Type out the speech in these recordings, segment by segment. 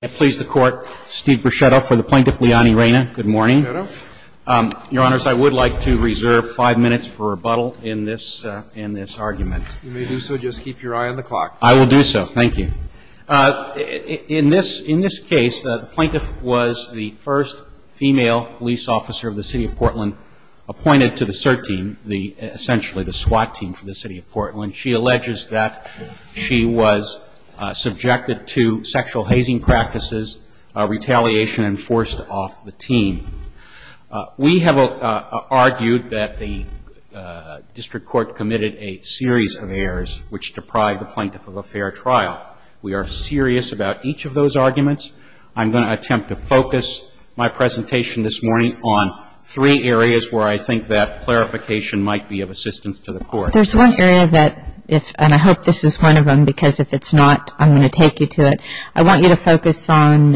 I please the Court, Steve Breschetta for the Plaintiff, Liani Reyna. Good morning. Breschetta. Your Honors, I would like to reserve five minutes for rebuttal in this argument. You may do so. Just keep your eye on the clock. I will do so. Thank you. In this case, the plaintiff was the first female police officer of the City of Portland appointed to the SIRT team, essentially the SWAT team for the City of Portland. And she alleges that she was subjected to sexual hazing practices, retaliation and forced off the team. We have argued that the district court committed a series of errors which deprived the plaintiff of a fair trial. We are serious about each of those arguments. I'm going to attempt to focus my presentation this morning on three areas where I think that clarification might be of assistance to the Court. There's one area that, and I hope this is one of them because if it's not, I'm going to take you to it. I want you to focus on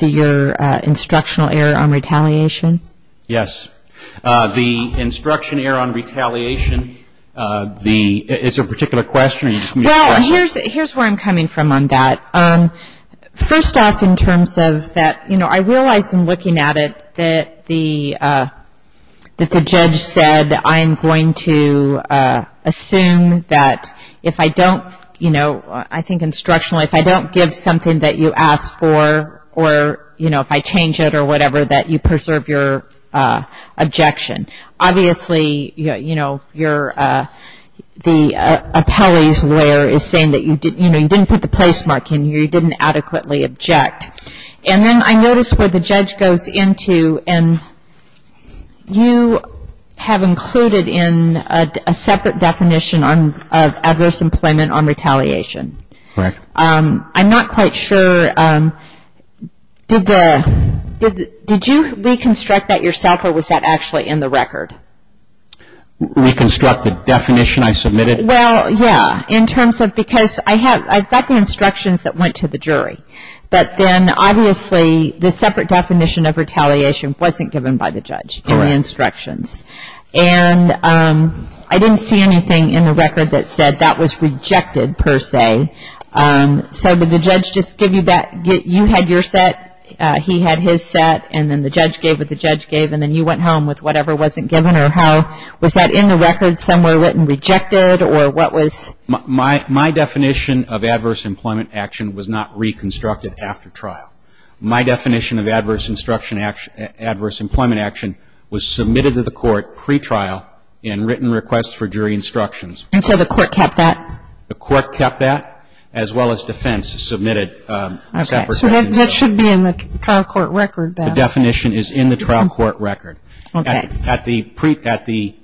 your instructional error on retaliation. Yes. The instruction error on retaliation, it's a particular question. Well, here's where I'm coming from on that. First off in terms of that, you know, I realize in looking at it that the judge said that I'm going to assume that if I don't, you know, I think instructional, if I don't give something that you ask for or, you know, if I change it or whatever, that you preserve your objection. Obviously, you know, the appellee's lawyer is saying that, you know, you didn't put the placemark in, you didn't adequately object. And then I notice where the judge goes into and you have included in a separate definition of adverse employment on retaliation. Correct. I'm not quite sure. Did you reconstruct that yourself or was that actually in the record? Reconstruct the definition I submitted? Well, yeah, in terms of because I have, I've got the instructions that went to the jury. But then, obviously, the separate definition of retaliation wasn't given by the judge in the instructions. And I didn't see anything in the record that said that was rejected per se. So did the judge just give you that, you had your set, he had his set, and then the judge gave what the judge gave and then you went home with whatever wasn't given or how, was that in the record somewhere written rejected or what was? My definition of adverse employment action was not reconstructed after trial. My definition of adverse instruction action, adverse employment action was submitted to the court pretrial in written requests for jury instructions. And so the court kept that? The court kept that as well as defense submitted separate. Okay. So that should be in the trial court record then. The definition is in the trial court record. Okay. At the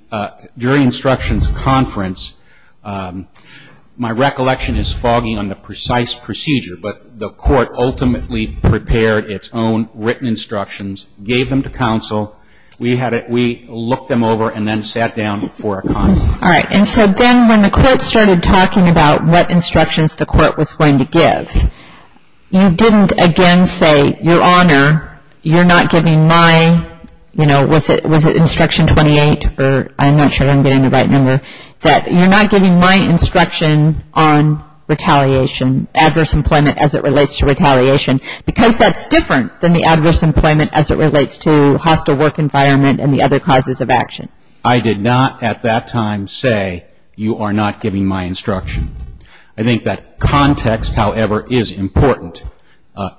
jury instructions conference, my recollection is fogging on the precise procedure, but the court ultimately prepared its own written instructions, gave them to counsel. We looked them over and then sat down for a conference. All right. And so then when the court started talking about what instructions the court was going to give, you didn't again say, Your Honor, you're not giving my, you know, was it instruction 28 or I'm not sure I'm getting the right number, that you're not giving my instruction on retaliation, adverse employment as it relates to retaliation because that's different than the adverse employment as it relates to hostile work environment and the other causes of action. I did not at that time say, You are not giving my instruction. I think that context, however, is important.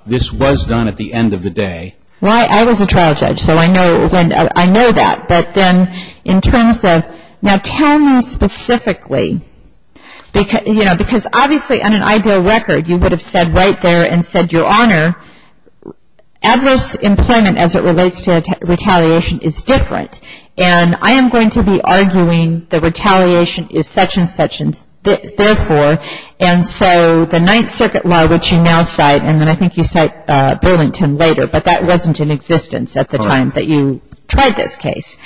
This was done at the end of the day. Well, I was a trial judge, so I know that. But then in terms of now tell me specifically, you know, because obviously on an ideal record you would have said right there and said, Your Honor, adverse employment as it relates to retaliation is different. And I am going to be arguing the retaliation is such and such and therefore, and so the Ninth Circuit law, which you now cite, and then I think you cite Burlington later, but that wasn't in existence at the time that you tried this case,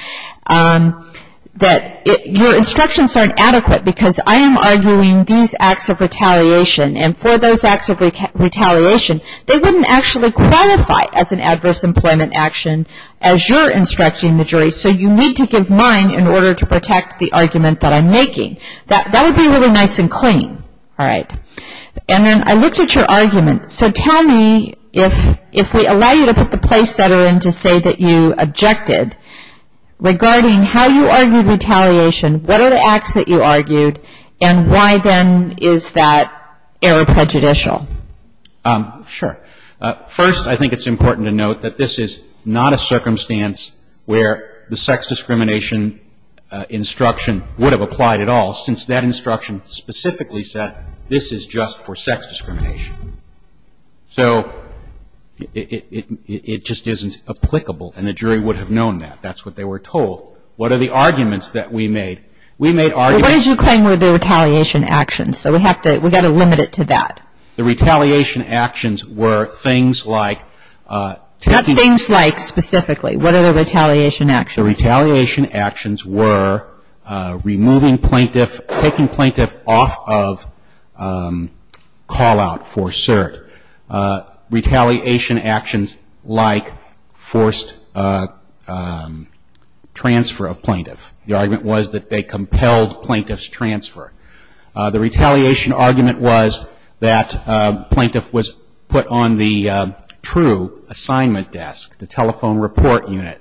that your instructions aren't adequate because I am arguing these acts of retaliation and for those acts of retaliation, they wouldn't actually qualify as an adverse employment action as you're instructing the jury, so you need to give mine in order to protect the argument that I'm making. That would be really nice and clean. All right. And then I looked at your argument, so tell me if we allow you to put the place setter in to say that you objected regarding how you argued retaliation, what are the acts that you argued, and why then is that error prejudicial? Sure. First, I think it's important to note that this is not a circumstance where the sex discrimination instruction would have applied at all, since that instruction specifically said this is just for sex discrimination. So it just isn't applicable and the jury would have known that. That's what they were told. What are the arguments that we made? We made arguments. Well, what did you claim were the retaliation actions? So we have to, we've got to limit it to that. The retaliation actions were things like taking. Not things like specifically. What are the retaliation actions? The retaliation actions were removing plaintiff, taking plaintiff off of call out for cert. Retaliation actions like forced transfer of plaintiff. The argument was that they compelled plaintiff's transfer. The retaliation argument was that plaintiff was put on the true assignment desk, the telephone report unit.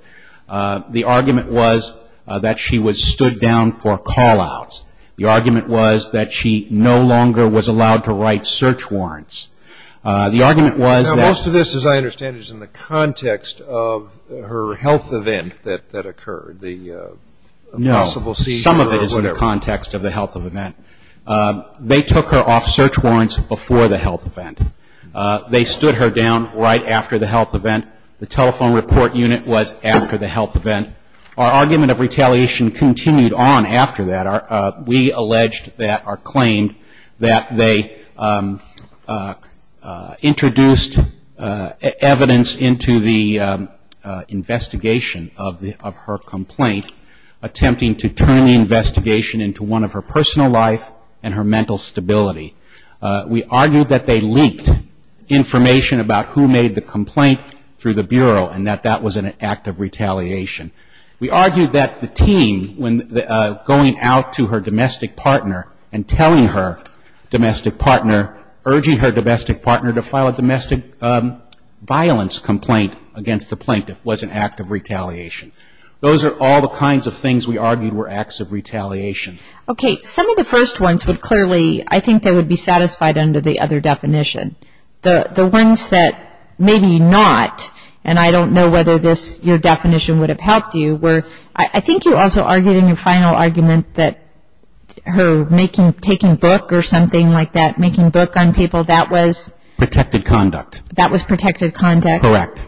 The argument was that she was stood down for call outs. The argument was that she no longer was allowed to write search warrants. The argument was that. Now, most of this, as I understand it, is in the context of her health event that occurred, the possible seizure or whatever. No. Some of it is in the context of the health event. They took her off search warrants before the health event. They stood her down right after the health event. The telephone report unit was after the health event. Our argument of retaliation continued on after that. We alleged that or claimed that they introduced evidence into the investigation of her complaint, attempting to turn the investigation into one of her personal life and her mental stability. We argued that they leaked information about who made the complaint through the Bureau and that that was an act of retaliation. We argued that the team, when going out to her domestic partner and telling her domestic partner, urging her domestic partner to file a domestic violence complaint against the plaintiff, was an act of retaliation. Those are all the kinds of things we argued were acts of retaliation. Okay. Some of the first ones would clearly, I think, they would be satisfied under the other definition. The ones that maybe not, and I don't know whether your definition would have helped you, were I think you also argued in your final argument that her taking book or something like that, making book on people, that was? Protected conduct. That was protected conduct? Correct.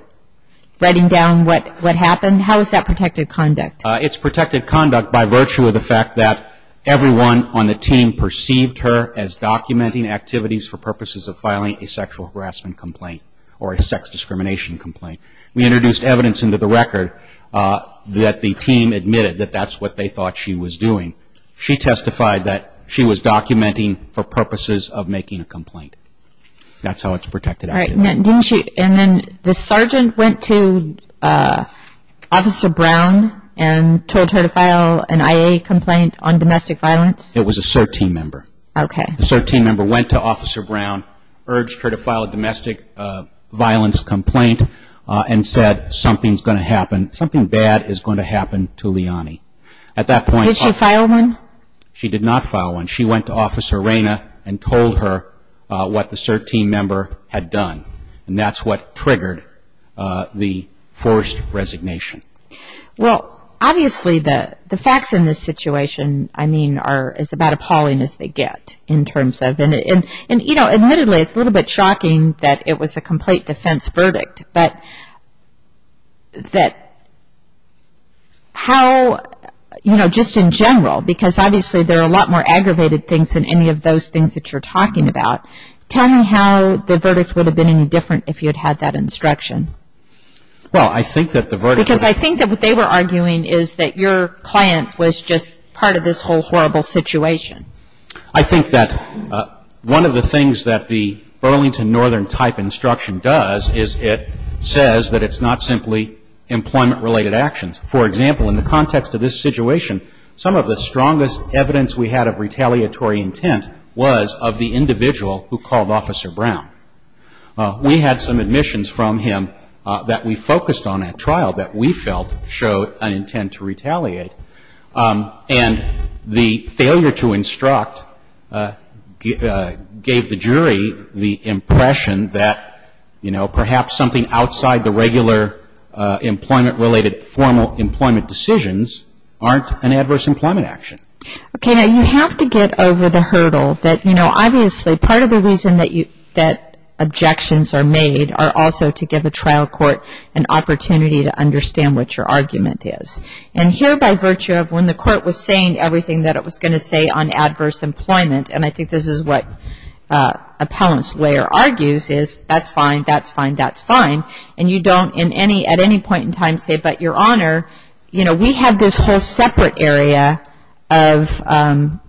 Writing down what happened? How is that protected conduct? It's protected conduct by virtue of the fact that everyone on the team perceived her as documenting activities for purposes of filing a sexual harassment complaint or a sex discrimination complaint. We introduced evidence into the record that the team admitted that that's what they thought she was doing. She testified that she was documenting for purposes of making a complaint. That's how it's protected. And then the sergeant went to Officer Brown and told her to file an IA complaint on domestic violence? It was a SIRT team member. Okay. The SIRT team member went to Officer Brown, urged her to file a domestic violence complaint, and said something's going to happen, something bad is going to happen to Liani. Did she file one? She did not file one. She went to Officer Reyna and told her what the SIRT team member had done, and that's what triggered the forced resignation. Well, obviously the facts in this situation, I mean, are as about appalling as they get in terms of, and, you know, admittedly it's a little bit shocking that it was a complete defense verdict, but that how, you know, just in general, because obviously there are a lot more aggravated things than any of those things that you're talking about. Tell me how the verdict would have been any different if you had had that instruction. Well, I think that the verdict was... Because I think that what they were arguing is that your client was just part of this whole horrible situation. I think that one of the things that the Burlington Northern type instruction does is it says that it's not simply employment-related actions. For example, in the context of this situation, some of the strongest evidence we had of retaliatory intent was of the individual who called Officer Brown. We had some admissions from him that we focused on at trial that we felt showed an intent to retaliate. And the failure to instruct gave the jury the impression that, you know, perhaps something outside the regular employment-related formal employment decisions aren't an adverse employment action. Okay. Now, you have to get over the hurdle that, you know, obviously part of the reason that objections are made are also to give a trial court an opportunity to understand what your argument is. And here, by virtue of when the court was saying everything that it was going to say on adverse employment, and I think this is what appellant's lawyer argues is, that's fine, that's fine, that's fine, and you don't at any point in time say, but, Your Honor, you know, we have this whole separate area of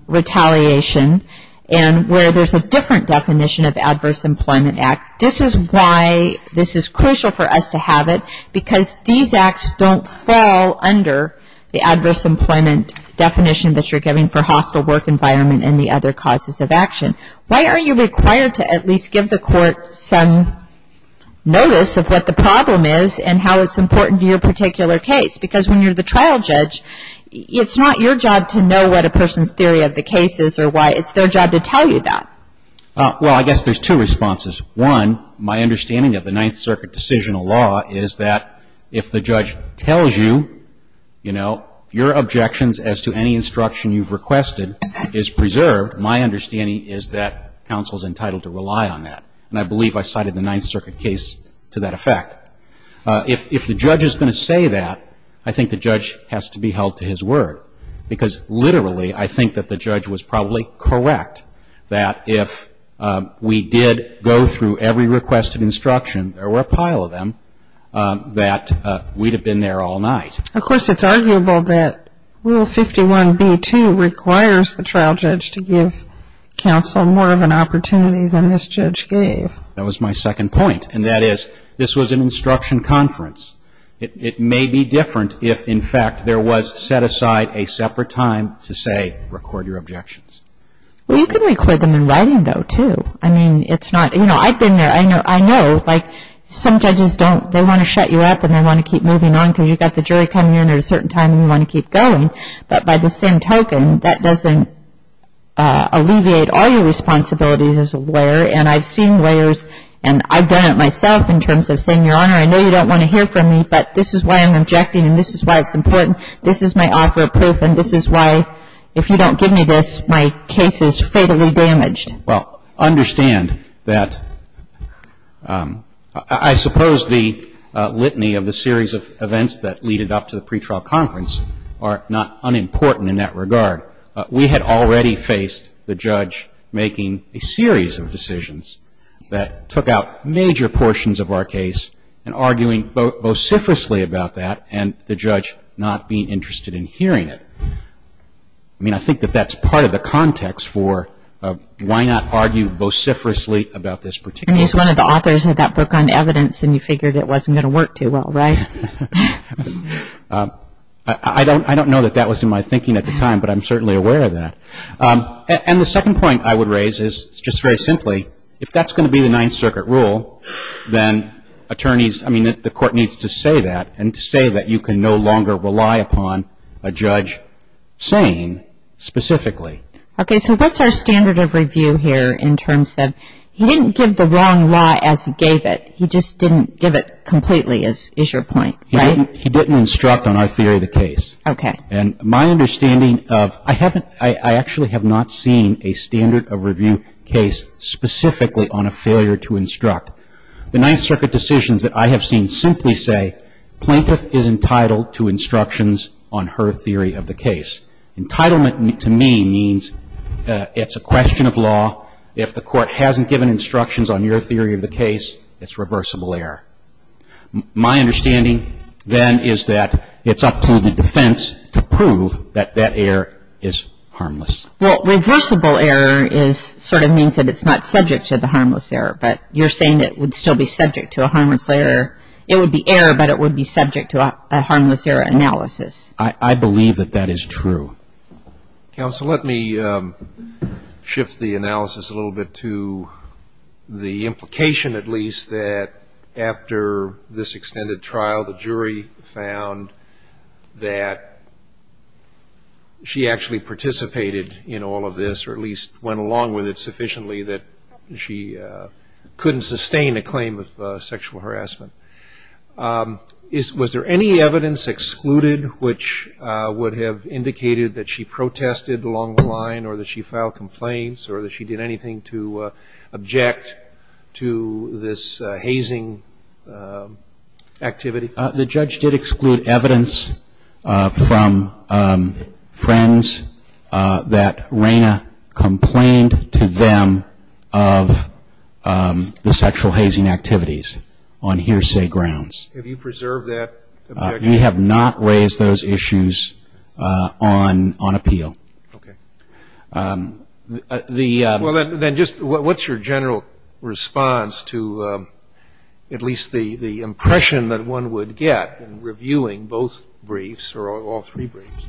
retaliation and where there's a different definition of adverse employment act. This is why this is crucial for us to have it, because these acts don't fall under the adverse employment definition that you're giving for hostile work environment and the other causes of action. Why are you required to at least give the court some notice of what the problem is and how it's important to your particular case? Because when you're the trial judge, it's not your job to know what a person's theory of the case is or why. It's their job to tell you that. Well, I guess there's two responses. One, my understanding of the Ninth Circuit decisional law is that if the judge tells you, you know, your objections as to any instruction you've requested is preserved, my understanding is that counsel's entitled to rely on that. And I believe I cited the Ninth Circuit case to that effect. If the judge is going to say that, I think the judge has to be held to his word, because literally I think that the judge was probably correct that if we did go through every requested instruction, there were a pile of them, that we'd have been there all night. Of course, it's arguable that Rule 51b-2 requires the trial judge to give counsel more of an opportunity than this judge gave. That was my second point, and that is this was an instruction conference. It may be different if, in fact, there was set aside a separate time to say, record your objections. Well, you could record them in writing, though, too. I mean, it's not, you know, I've been there. I know, like, some judges don't, they want to shut you up and they want to keep moving on because you've got the jury coming in at a certain time and you want to keep going. But by the same token, that doesn't alleviate all your responsibilities as a lawyer. And I've seen lawyers, and I've done it myself in terms of saying, Your Honor, I know you don't want to hear from me, but this is why I'm objecting, and this is why it's important. This is my offer of proof, and this is why, if you don't give me this, my case is fatally damaged. Well, understand that I suppose the litany of the series of events that lead it up to the pretrial conference are not unimportant in that regard. We had already faced the judge making a series of decisions that took out major portions of our case and arguing vociferously about that and the judge not being interested in hearing it. I mean, I think that that's part of the context for why not argue vociferously about this particular case. And he's one of the authors of that book on evidence, and you figured it wasn't going to work too well, right? I don't know that that was in my thinking at the time, but I'm certainly aware of that. And the second point I would raise is, just very simply, if that's going to be the Ninth Circuit rule, then attorneys, I mean, the court needs to say that, and to say that you can no longer rely upon a judge saying specifically. Okay, so what's our standard of review here in terms of he didn't give the wrong law as he gave it. He just didn't give it completely is your point, right? He didn't instruct on our theory of the case. Okay. And my understanding of, I actually have not seen a standard of review case specifically on a failure to instruct. The Ninth Circuit decisions that I have seen simply say, plaintiff is entitled to instructions on her theory of the case. Entitlement to me means it's a question of law. If the court hasn't given instructions on your theory of the case, it's reversible error. My understanding then is that it's up to the defense to prove that that error is harmless. Well, reversible error sort of means that it's not subject to the harmless error, but you're saying it would still be subject to a harmless error. It would be error, but it would be subject to a harmless error analysis. I believe that that is true. Counsel, let me shift the analysis a little bit to the implication at least that after this extended trial, the jury found that she actually participated in all of this, or at least went along with it sufficiently that she couldn't sustain a claim of sexual harassment. Was there any evidence excluded which would have indicated that she protested along the line or that she filed complaints or that she did anything to object to this hazing activity? The judge did exclude evidence from friends that Reina complained to them of the sexual hazing activities on hearsay grounds. Have you preserved that objection? We have not raised those issues on appeal. Okay. Well, then just what's your general response to at least the impression that one would get in reviewing both briefs or all three briefs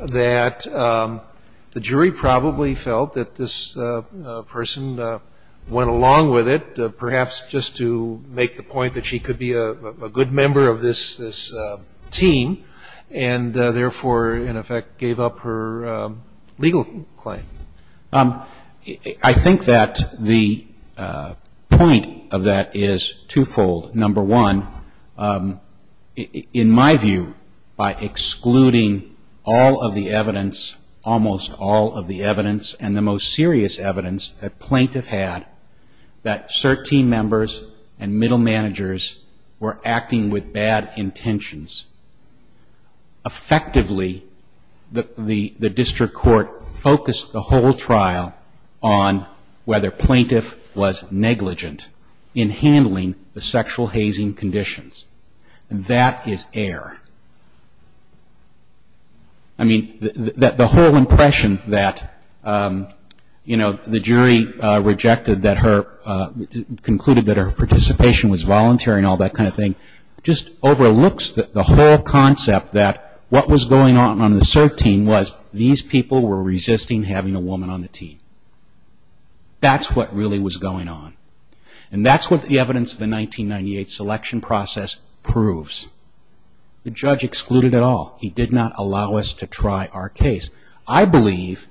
that the jury probably felt that this person went along with it, perhaps just to make the point that she could be a good member of this team and therefore, in effect, gave up her legal claim? I think that the point of that is twofold. Number one, in my view, by excluding all of the evidence, almost all of the evidence and the most serious evidence that plaintiff had, that CERT team members and middle managers were acting with bad intentions. Effectively, the district court focused the whole trial on whether plaintiff was negligent in handling the sexual hazing conditions, and that is error. I mean, the whole impression that, you know, the jury rejected that her, concluded that her participation was voluntary and all that kind of thing just overlooks the whole concept that what was going on on the CERT team was these people were resisting having a woman on the team. That's what really was going on. And that's what the evidence of the 1998 selection process proves. The judge excluded it all. He did not allow us to try our case. I believe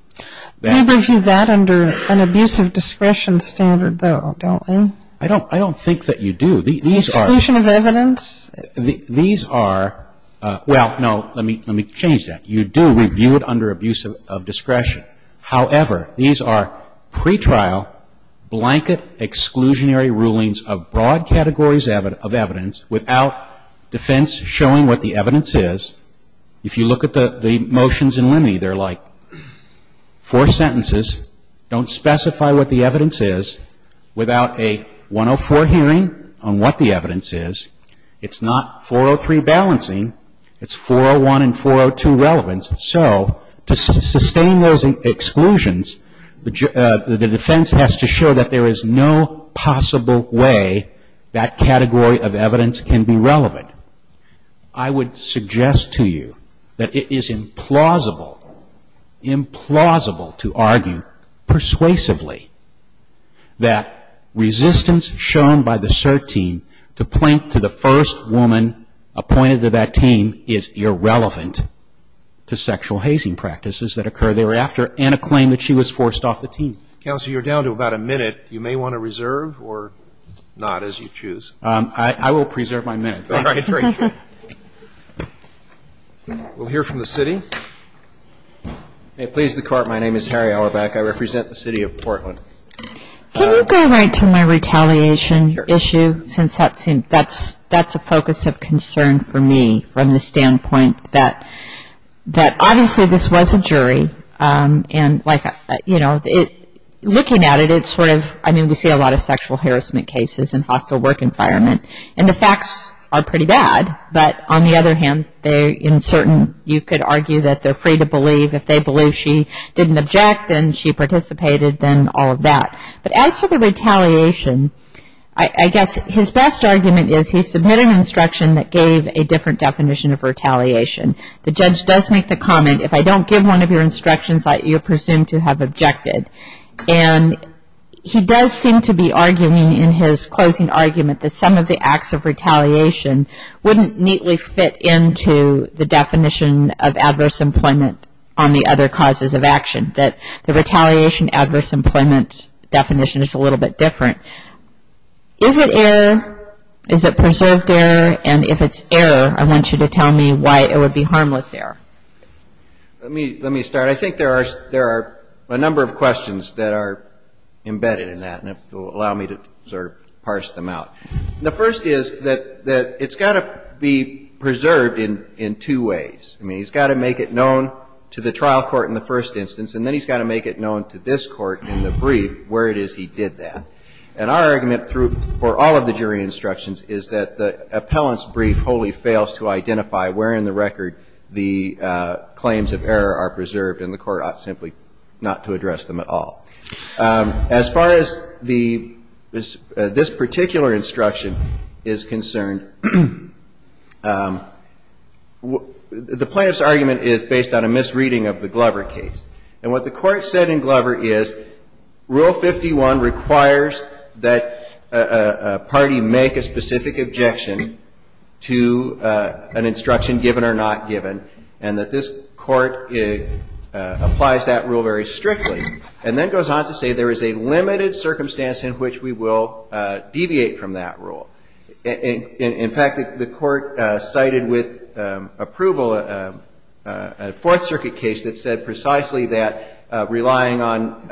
that... We review that under an abuse of discretion standard, though, don't we? I don't think that you do. These are... Exclusion of evidence? These are, well, no, let me change that. You do review it under abuse of discretion. However, these are pretrial blanket exclusionary rulings of broad categories of evidence without defense showing what the evidence is. If you look at the motions in limine, they're like four sentences, don't specify what the evidence is, without a 104 hearing on what the evidence is. It's not 403 balancing. It's 401 and 402 relevance. So to sustain those exclusions, the defense has to show that there is no possible way that category of evidence can be relevant. I would suggest to you that it is implausible, implausible to argue persuasively that resistance shown by the CERT team to point to the first woman appointed to that team is irrelevant. I would suggest to you that it is implausible to argue persuasively that resistance shown by the CERT team to point to the first woman appointed to that team is irrelevant. I would suggest to you that it is implausible to argue persuasively that resistance shown by the CERT team to point to sexual hazing practices that occur thereafter and a claim that she was forced off the team. Counsel, you're down to about a minute. You may want to reserve or not, as you choose. I will preserve my minute. Great. We'll hear from the city. May it please the court, my name is Harry Allerback. I represent the city of Portland. Can you go right to my retaliation issue, since that's a focus of concern for me from the standpoint that obviously this was a jury, and looking at it, we see a lot of sexual harassment cases and hostile work environment, and the facts are pretty bad. But on the other hand, they're uncertain. You could argue that they're free to believe. If they believe she didn't object and she participated, then all of that. But as to the retaliation, I guess his best argument is he submitted an instruction that gave a different definition of retaliation. The judge does make the comment, if I don't give one of your instructions, you're presumed to have objected. And he does seem to be arguing in his closing argument that some of the acts of retaliation wouldn't neatly fit into the definition of adverse employment on the other causes of action, that the retaliation adverse employment definition is a little bit different. Is it error? Is it preserved error? And if it's error, I want you to tell me why it would be harmless error. Let me start. I think there are a number of questions that are embedded in that, and if you'll allow me to sort of parse them out. The first is that it's got to be preserved in two ways. I mean, he's got to make it known to the trial court in the first instance, and then he's got to make it known to this court in the brief where it is he did that. And our argument for all of the jury instructions is that the appellant's brief wholly fails to identify where in the record the claims of error are preserved in the first instance. And the court ought simply not to address them at all. As far as this particular instruction is concerned, the plaintiff's argument is based on a misreading of the Glover case. And what the court said in Glover is Rule 51 requires that a party make a specific objection to an instruction, given or not given, and that this court is not going to do that. And the court's argument is that the plaintiff's ruling applies that rule very strictly, and then goes on to say there is a limited circumstance in which we will deviate from that rule. In fact, the court cited with approval a Fourth Circuit case that said precisely that relying on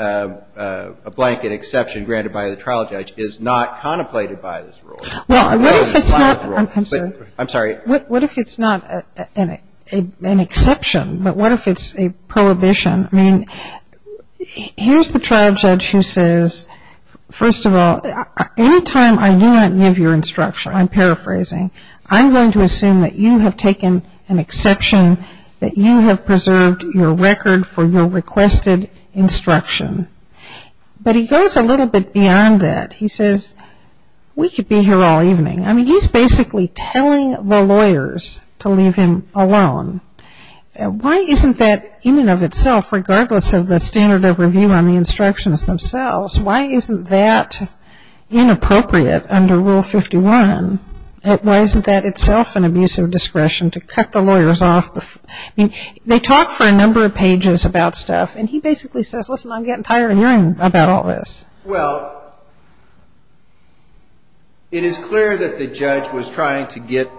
a blanket exception granted by the trial judge is not contemplated by this rule. Now, what if it's not an exception, but what if it's a prohibition? I mean, here's the trial judge who says, first of all, any time I do not give your instruction, I'm paraphrasing, I'm going to assume that you have taken an exception, that you have preserved your record for your requested instruction. But he goes a little bit beyond that. He says, we could be here all evening. I mean, he's basically telling the lawyers to leave him alone. Why isn't that in and of itself, regardless of the standard of review on the instructions themselves, why isn't that inappropriate under Rule 51? Why isn't that itself an abuse of discretion to cut the lawyers off? I mean, they talk for a number of pages about stuff, and he basically says, listen, I'm getting tired of hearing about all this. Well, it is clear that the judge was trying to get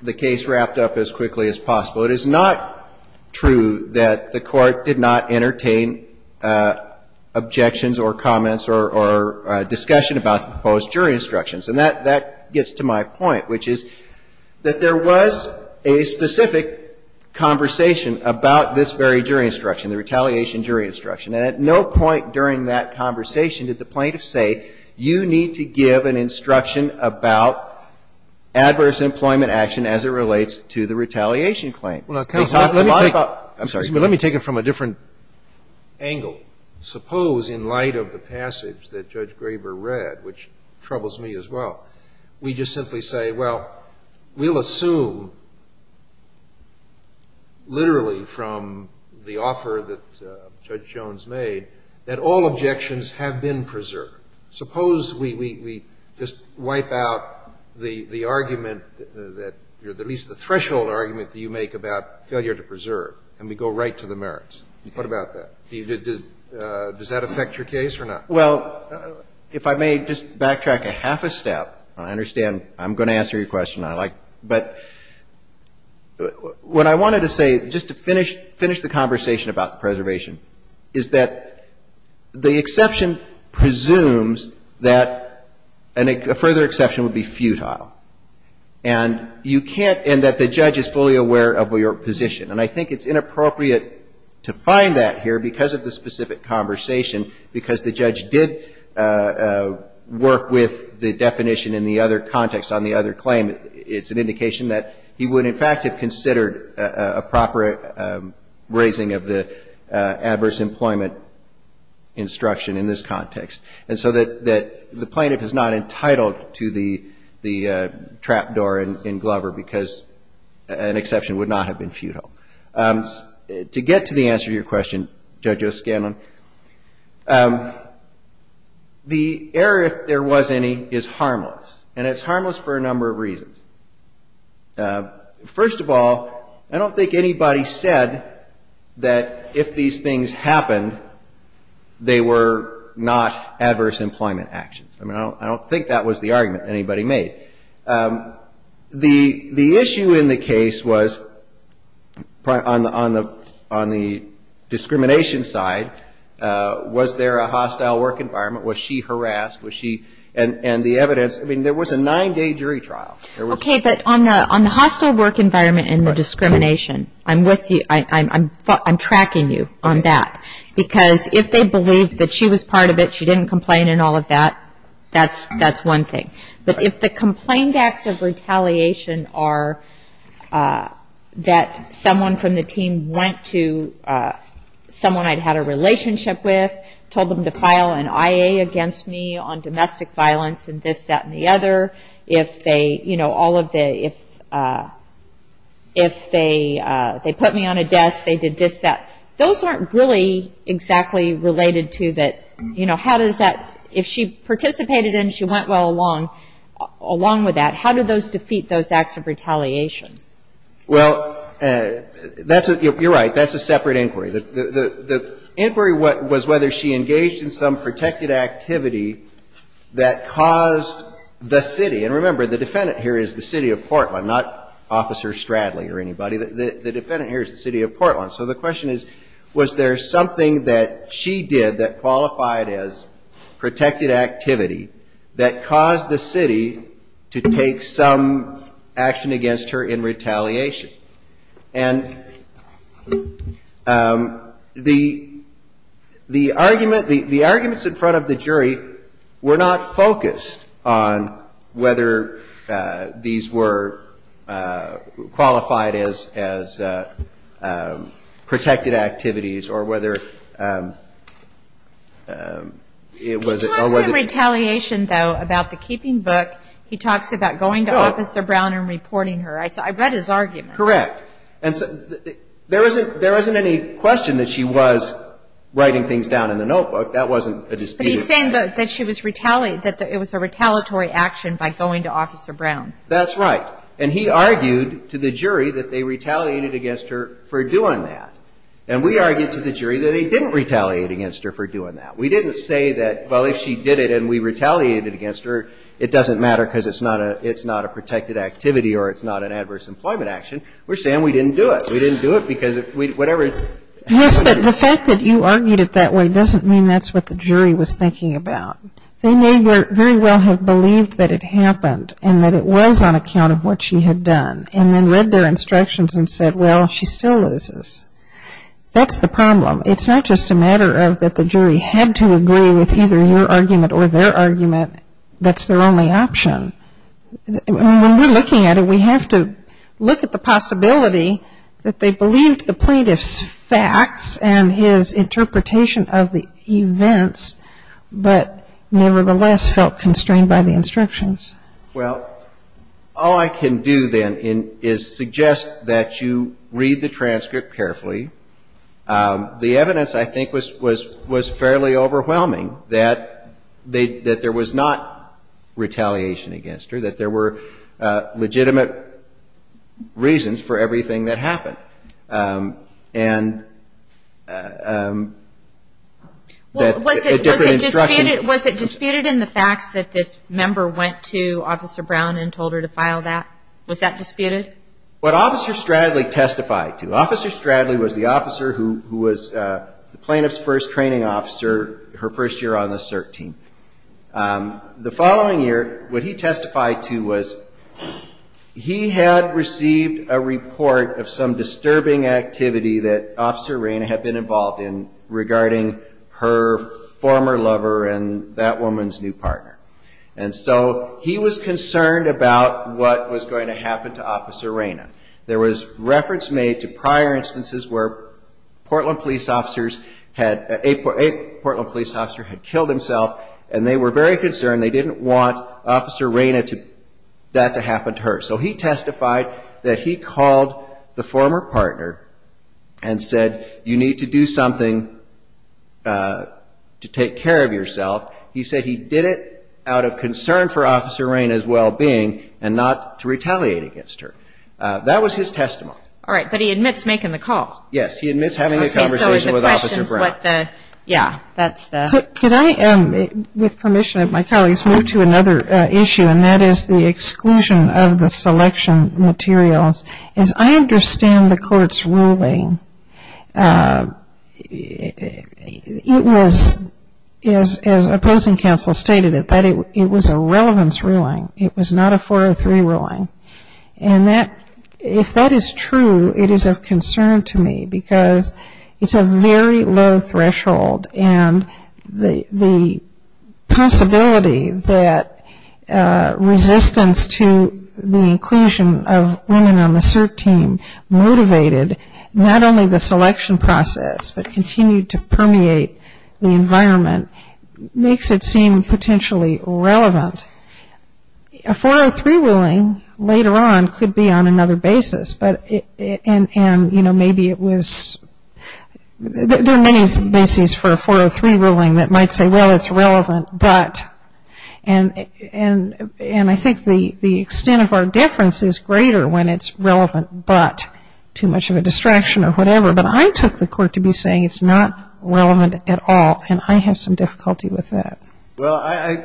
the case wrapped up as quickly as possible. It is not true that the court did not entertain objections or comments or discussion about the proposed jury instructions. And that gets to my point, which is that there was a specific conversation about this very jury instruction, the retaliation jury instruction, and at no point during that conversation did the plaintiff say, you need to give an instruction about adverse employment action as it relates to the retaliation claim. Let me take it from a different angle. Suppose in light of the passage that Judge Graber read, which troubles me as well, we just simply say, well, we'll assume literally from the offer that Judge Jones made that all objections have been preserved. Suppose we just wipe out the argument, at least the threshold argument that you make about failure to preserve, and we go right to the question, does that affect your case or not? Well, if I may just backtrack a half a step, and I understand I'm going to answer your question, but what I wanted to say, just to finish the conversation about preservation, is that the exception presumes that a further exception would be futile, and you can't and that the judge is fully aware of your position. And I think it's inappropriate to find that here because of the specific conversation, because the judge did work with the definition in the other context on the other claim. It's an indication that he would in fact have considered a proper raising of the adverse employment instruction in this context, and so that the plaintiff is not entitled to the trap door in Glover because an exception would not have been futile. To get to the answer to your question, Judge O'Scanlan, the error, if there was any, is harmless, and it's harmless for a number of reasons. First of all, I don't think anybody said that if these things happened, they were not adverse employment actions. I mean, I don't think that was the argument anybody made. The issue in the case was, if there was an adverse employment action, on the discrimination side, was there a hostile work environment? Was she harassed? And the evidence, I mean, there was a nine-day jury trial. Okay, but on the hostile work environment and the discrimination, I'm with you. I'm tracking you on that. Because if they believed that she was part of it, she didn't complain and all of that, that's one thing. But if the complained acts of retaliation are that someone from the team went to someone I'd had a relationship with, told them to file an IA against me on domestic violence and this, that, and the other, if they put me on a desk, they did this, that, those aren't really exactly related to that, you know, how does that, if she participated and she went well along with that, how do those defeat those acts of retaliation? Well, that's a, you're right, that's a separate inquiry. The inquiry was whether she engaged in some protected activity that caused the city, and remember, the defendant here is the city of Portland, not Officer Stradley or anybody. The defendant here is the city of Portland. So the question is, was there something that she did that qualified as protected activity that caused the city to take some action against her in retaliation? And the, the argument, the arguments in front of the jury were not focused on whether these were qualified as, as protected activities or whether it was... There was no retaliation, though, about the keeping book. He talks about going to Officer Brown and reporting her. I saw, I read his argument. Correct. And so, there isn't, there isn't any question that she was writing things down in the notebook. That wasn't a disputed... But he's saying that, that she was retaliated, that it was a retaliatory action by going to Officer Brown. That's right. And he argued to the jury that they retaliated against her for doing that. And we argued to the jury that they didn't retaliate against her for doing that. We didn't say that, well, if she did it and we retaliated against her, it doesn't matter because it's not a, it's not a protected activity or it's not an adverse employment action. We're saying we didn't do it. We didn't do it because whatever... Yes, but the fact that you argued it that way doesn't mean that's what the jury was thinking about. They may very well have believed that it happened and that it was on account of what she had done and then read their instructions and said, well, she still loses. That's the problem. It's not just a matter of that the jury had to agree with either your argument or their argument. That's their only option. And when we're looking at it, we have to look at the possibility that they believed the plaintiff's facts and his interpretation of the events, but nevertheless felt constrained by the instructions. Well, all I can do then is suggest that you read the transcript carefully. The evidence, I think, was fairly overwhelming that there was not retaliation against her, that there were legitimate reasons for everything that happened. And... Was it disputed in the facts that this member went to Officer Brown and told her to file that? Was that disputed? What Officer Stradley testified to, Officer Stradley was the officer who was the plaintiff's first training officer her first year on the CERT team. The following year, what he testified to was he had received a report of some disturbing activity that Officer Reyna had been involved in regarding her former lover and that woman's new partner. And so he was concerned about what was going to happen to Officer Reyna. There was reference made to prior instances where Portland police officers had, a Portland police officer had killed himself, and they were very concerned. They didn't want Officer Reyna to, that to happen to her. So he testified that he called the former partner and said, you need to do something to take care of yourself. He said he did it out of concern for Officer Reyna's well-being and not to retaliate against her. That was his testimony. All right, but he admits making the call. Yes, he admits having a conversation with Officer Brown. Could I, with permission of my colleagues, move to another issue, and that is the exclusion of the selection materials. As I understand the court's ruling, it was, as opposing counsel stated it, that it was a relevance ruling. It was not a 403 ruling. And that, if that is true, it is of concern to me because it's a very low-level ruling. It's a very low-level ruling. It's a very low threshold, and the possibility that resistance to the inclusion of women on the CERT team motivated not only the selection process, but continued to permeate the environment, makes it seem potentially relevant. A 403 ruling later on could be on another basis, but, and, you know, maybe it was, there are many things that could be on a different basis for a 403 ruling that might say, well, it's relevant, but, and I think the extent of our difference is greater when it's relevant, but too much of a distraction or whatever. But I took the court to be saying it's not relevant at all, and I have some difficulty with that. Well, I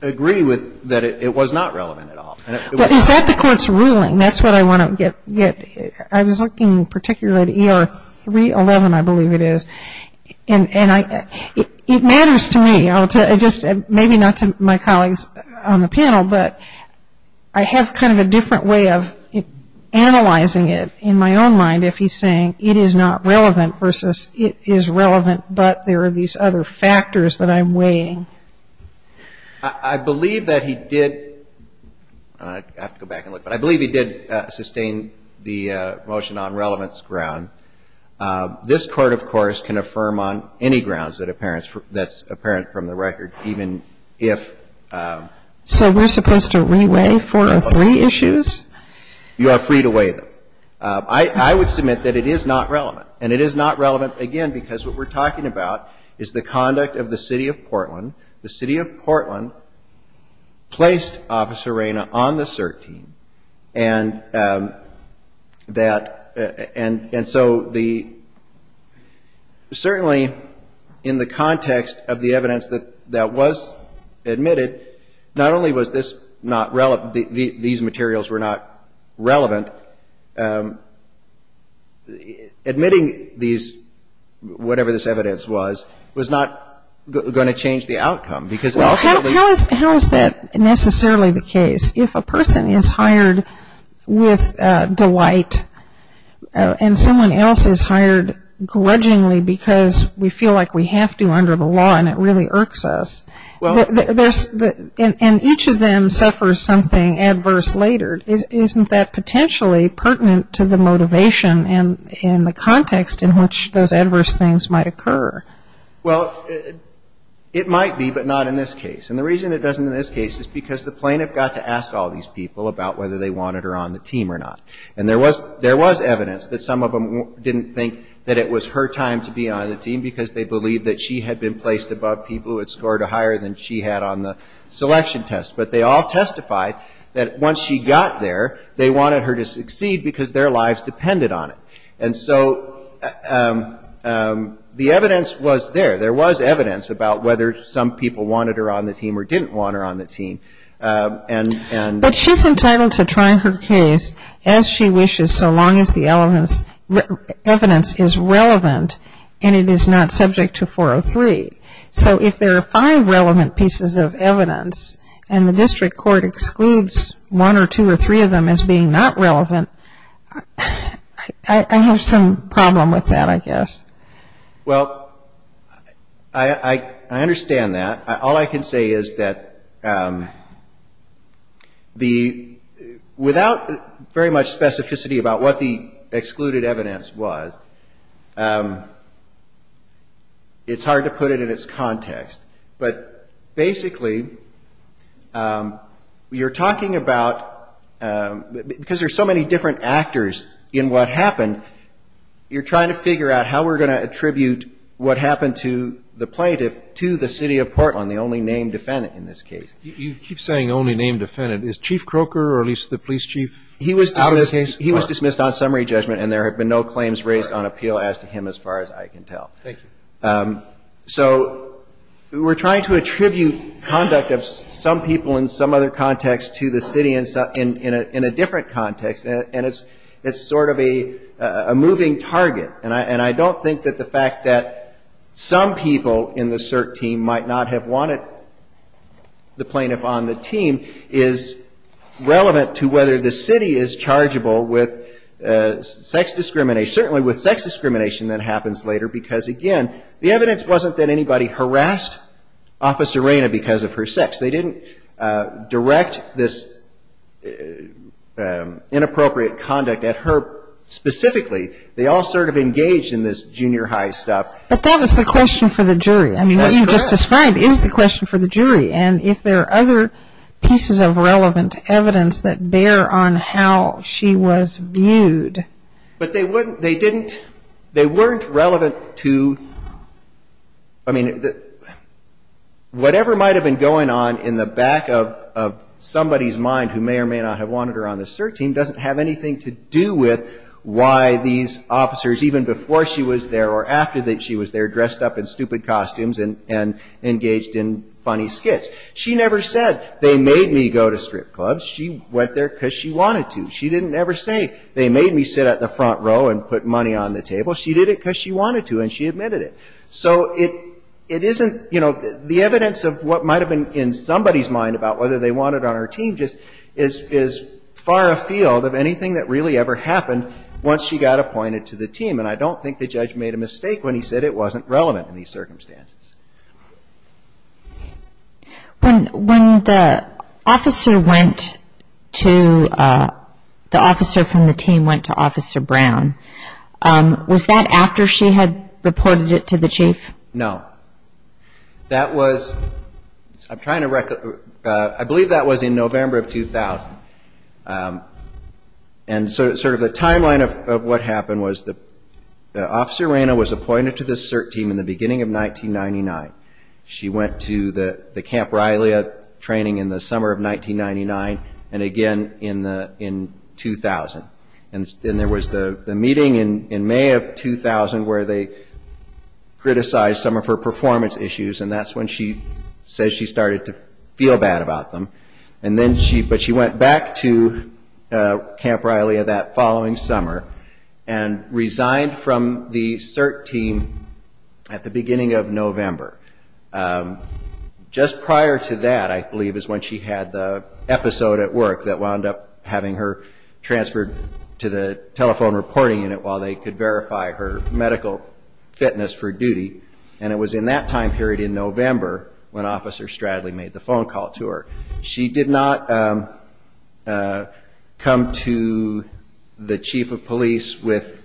agree with that it was not relevant at all. But is that the court's ruling? That's what I want to get. I was looking particularly at ER 311, I believe it is, and it matters to me. Maybe not to my colleagues on the panel, but I have kind of a different way of analyzing it in my own mind if he's saying it is not relevant versus it is relevant, but there are these other factors that I'm weighing. I believe that he did, I have to go back and look, but I believe he did sustain the motion on relevance ground. This court, of course, can affirm on any grounds that's apparent from the record, even if. So we're supposed to re-weigh 403 issues? You are free to weigh them. I would submit that it is not relevant, and it is not relevant, again, because what we're talking about is the conduct of the City of Portland. The City of Portland placed Officer Reyna on the CERT team, and that, and so the, certainly in the context of the evidence that was admitted, not only was this not relevant, these materials were not relevant, but admitting these, whatever this evidence was, was not going to change the outcome, because ultimately- How is that necessarily the case? If a person is hired with delight, and someone else is hired grudgingly because we feel like we have to under the law, and it really irks us, and each of them suffers something adverse later, isn't that potentially a violation of the law? It's not necessarily pertinent to the motivation and the context in which those adverse things might occur. Well, it might be, but not in this case. And the reason it doesn't in this case is because the plaintiff got to ask all these people about whether they wanted her on the team or not. And there was evidence that some of them didn't think that it was her time to be on the team, because they believed that she had been placed above people who had scored a higher than she had on the selection test. But they all testified that once she got there, they wanted her to succeed because their lives depended on it. And so the evidence was there. There was evidence about whether some people wanted her on the team or didn't want her on the team. But she's entitled to try her case as she wishes, so long as the evidence is relevant, and it is not subject to 403. So if there are five relevant pieces of evidence, and the district court excludes one or two or three of them as being not relevant, I have some problem with that, I guess. Well, I understand that. All I can say is that the, without very much specificity about what the excluded evidence was, it's hard to put it in its context. But basically, you're talking about, because there's so many different actors in what happened, you're trying to figure out how we're going to attribute what happened to the plaintiff to the City of Portland, the only named defendant in this case. You keep saying only named defendant. Is Chief Croker, or at least the police chief, out of the case? He was dismissed on summary judgment, and there have been no claims raised on appeal as to him as far as I can tell. So we're trying to attribute conduct of some people in some other context to the city in a different context, and it's sort of a moving target. And I don't think that the fact that some people in the cert team might not have wanted the plaintiff on the team is relevant to whether the city is chargeable with sex discrimination, certainly with sex discrimination that happens later, because again, the evidence wasn't that anybody harassed Officer Reyna because of her sex. They didn't direct this inappropriate conduct at her specifically. They all sort of engaged in this junior high stuff. But that was the question for the jury. I mean, what you just described is the question for the jury. And if there are other pieces of relevant evidence that bear on how she was viewed. But they didn't, they weren't relevant to, I mean, whatever might have been going on in the back of somebody's mind who may or may not have wanted her on the cert team doesn't have anything to do with why these officers, even before she was there or after she was there, dressed up in stupid costumes and engaged in funny skits. She never said, they made me go to strip clubs. She went there because she wanted to. She didn't ever say, they made me sit at the front row and put money on the table. She did it because she wanted to and she admitted it. So it isn't, you know, the evidence of what might have been in somebody's mind about whether they wanted her on her team just is far afield of anything that really ever happened once she got appointed to the team. And I don't think the judge made a mistake when he said it wasn't relevant in these circumstances. When the officer went to, the officer from the team went to Officer Brown, was that after she had reported it to the chief? No. That was, I'm trying to, I believe that was in November of 2000. And sort of the timeline of what happened was that Officer Moreno was appointed to the CERT team in the beginning of 1999. She went to the Camp Rylea training in the summer of 1999 and again in 2000. And there was the meeting in May of 2000 where they criticized some of her performance issues and that's when she said she started to feel bad about them. But she went back to Camp Rylea that following summer and resigned from the CERT team at the beginning of November. Just prior to that, I believe, is when she had the episode at work that wound up having her transferred to the telephone reporting unit while they could verify her medical fitness for duty. And it was in that time period in November when Officer Stradley made the phone call to her. She did not come to the chief of police with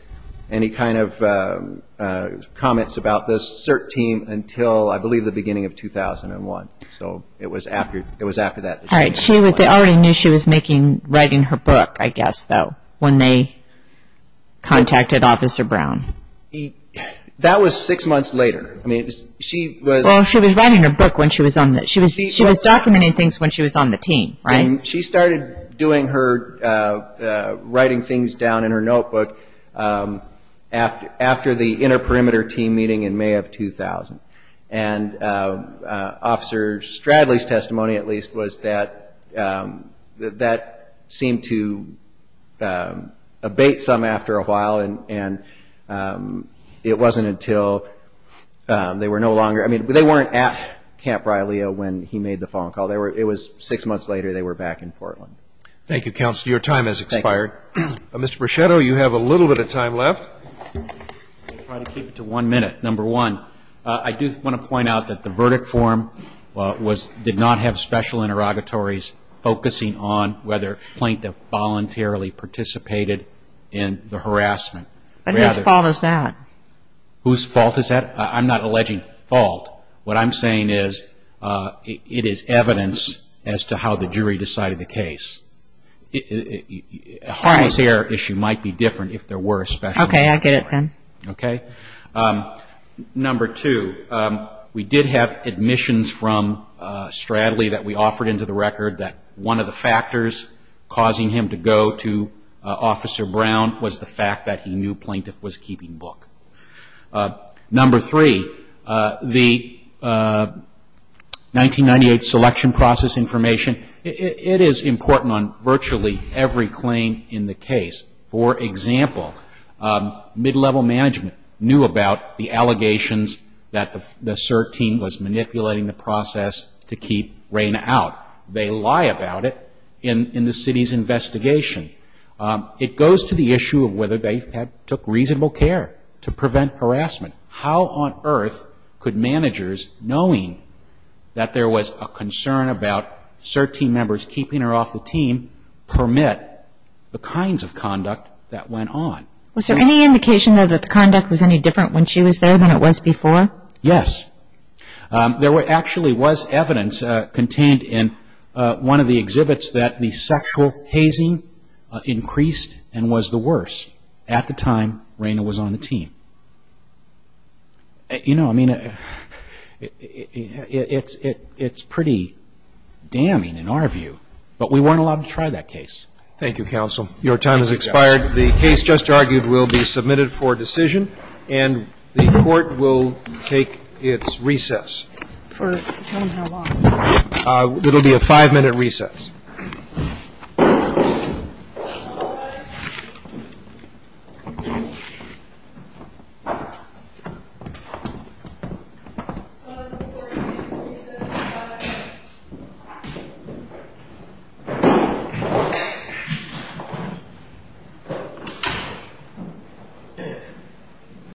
any kind of, you know, comments about the CERT team until, I believe, the beginning of 2001. So it was after that. All right. They already knew she was making, writing her book, I guess, though, when they contacted Officer Brown. That was six months later. I mean, she was... Well, she was writing her book when she was on the, she was documenting things when she was on the team, right? She started doing her, writing things down in her notebook after the inter-perimeter team meeting in May of 2000. And Officer Stradley's testimony, at least, was that that seemed to abate some after a while and it wasn't until they were no longer, I mean, they weren't at Camp Brialeo when he made the phone call. It was six months later. They were back in Portland. Thank you, Counselor. Your time has expired. Mr. Brachetto, you have a little bit of time left. I'll try to keep it to one minute. Number one, I do want to point out that the verdict form did not have special interrogatories focusing on whether Plaintiff voluntarily participated in the harassment. And whose fault is that? Whose fault is that? I'm not alleging fault. What I'm saying is, it is evidence as to how the jury decided the case. A harmless error issue might be different if there were a special... Okay, I get it then. Okay. Number two, we did have admissions from Stradley that we offered into the record that one of the new plaintiffs was keeping book. Number three, the 1998 selection process information, it is important on virtually every claim in the case. For example, mid-level management knew about the allegations that the CERT team was manipulating the process to keep Rayna out. They lie about it in the city's investigation. It goes to the issue of whether they had been involved in the process and whether they took reasonable care to prevent harassment. How on earth could managers, knowing that there was a concern about CERT team members keeping her off the team, permit the kinds of conduct that went on? Was there any indication, though, that the conduct was any different when she was there than it was before? Yes. There actually was evidence contained in one of the exhibits that the sexual hazing increased and was the worse at the time Rayna was on the team. You know, I mean, it's pretty damning in our view, but we weren't allowed to try that case. Thank you, counsel. Your time has expired. The case just argued will be submitted for decision and the court will take its recess. For how long? It will be a five-minute recess. Thank you.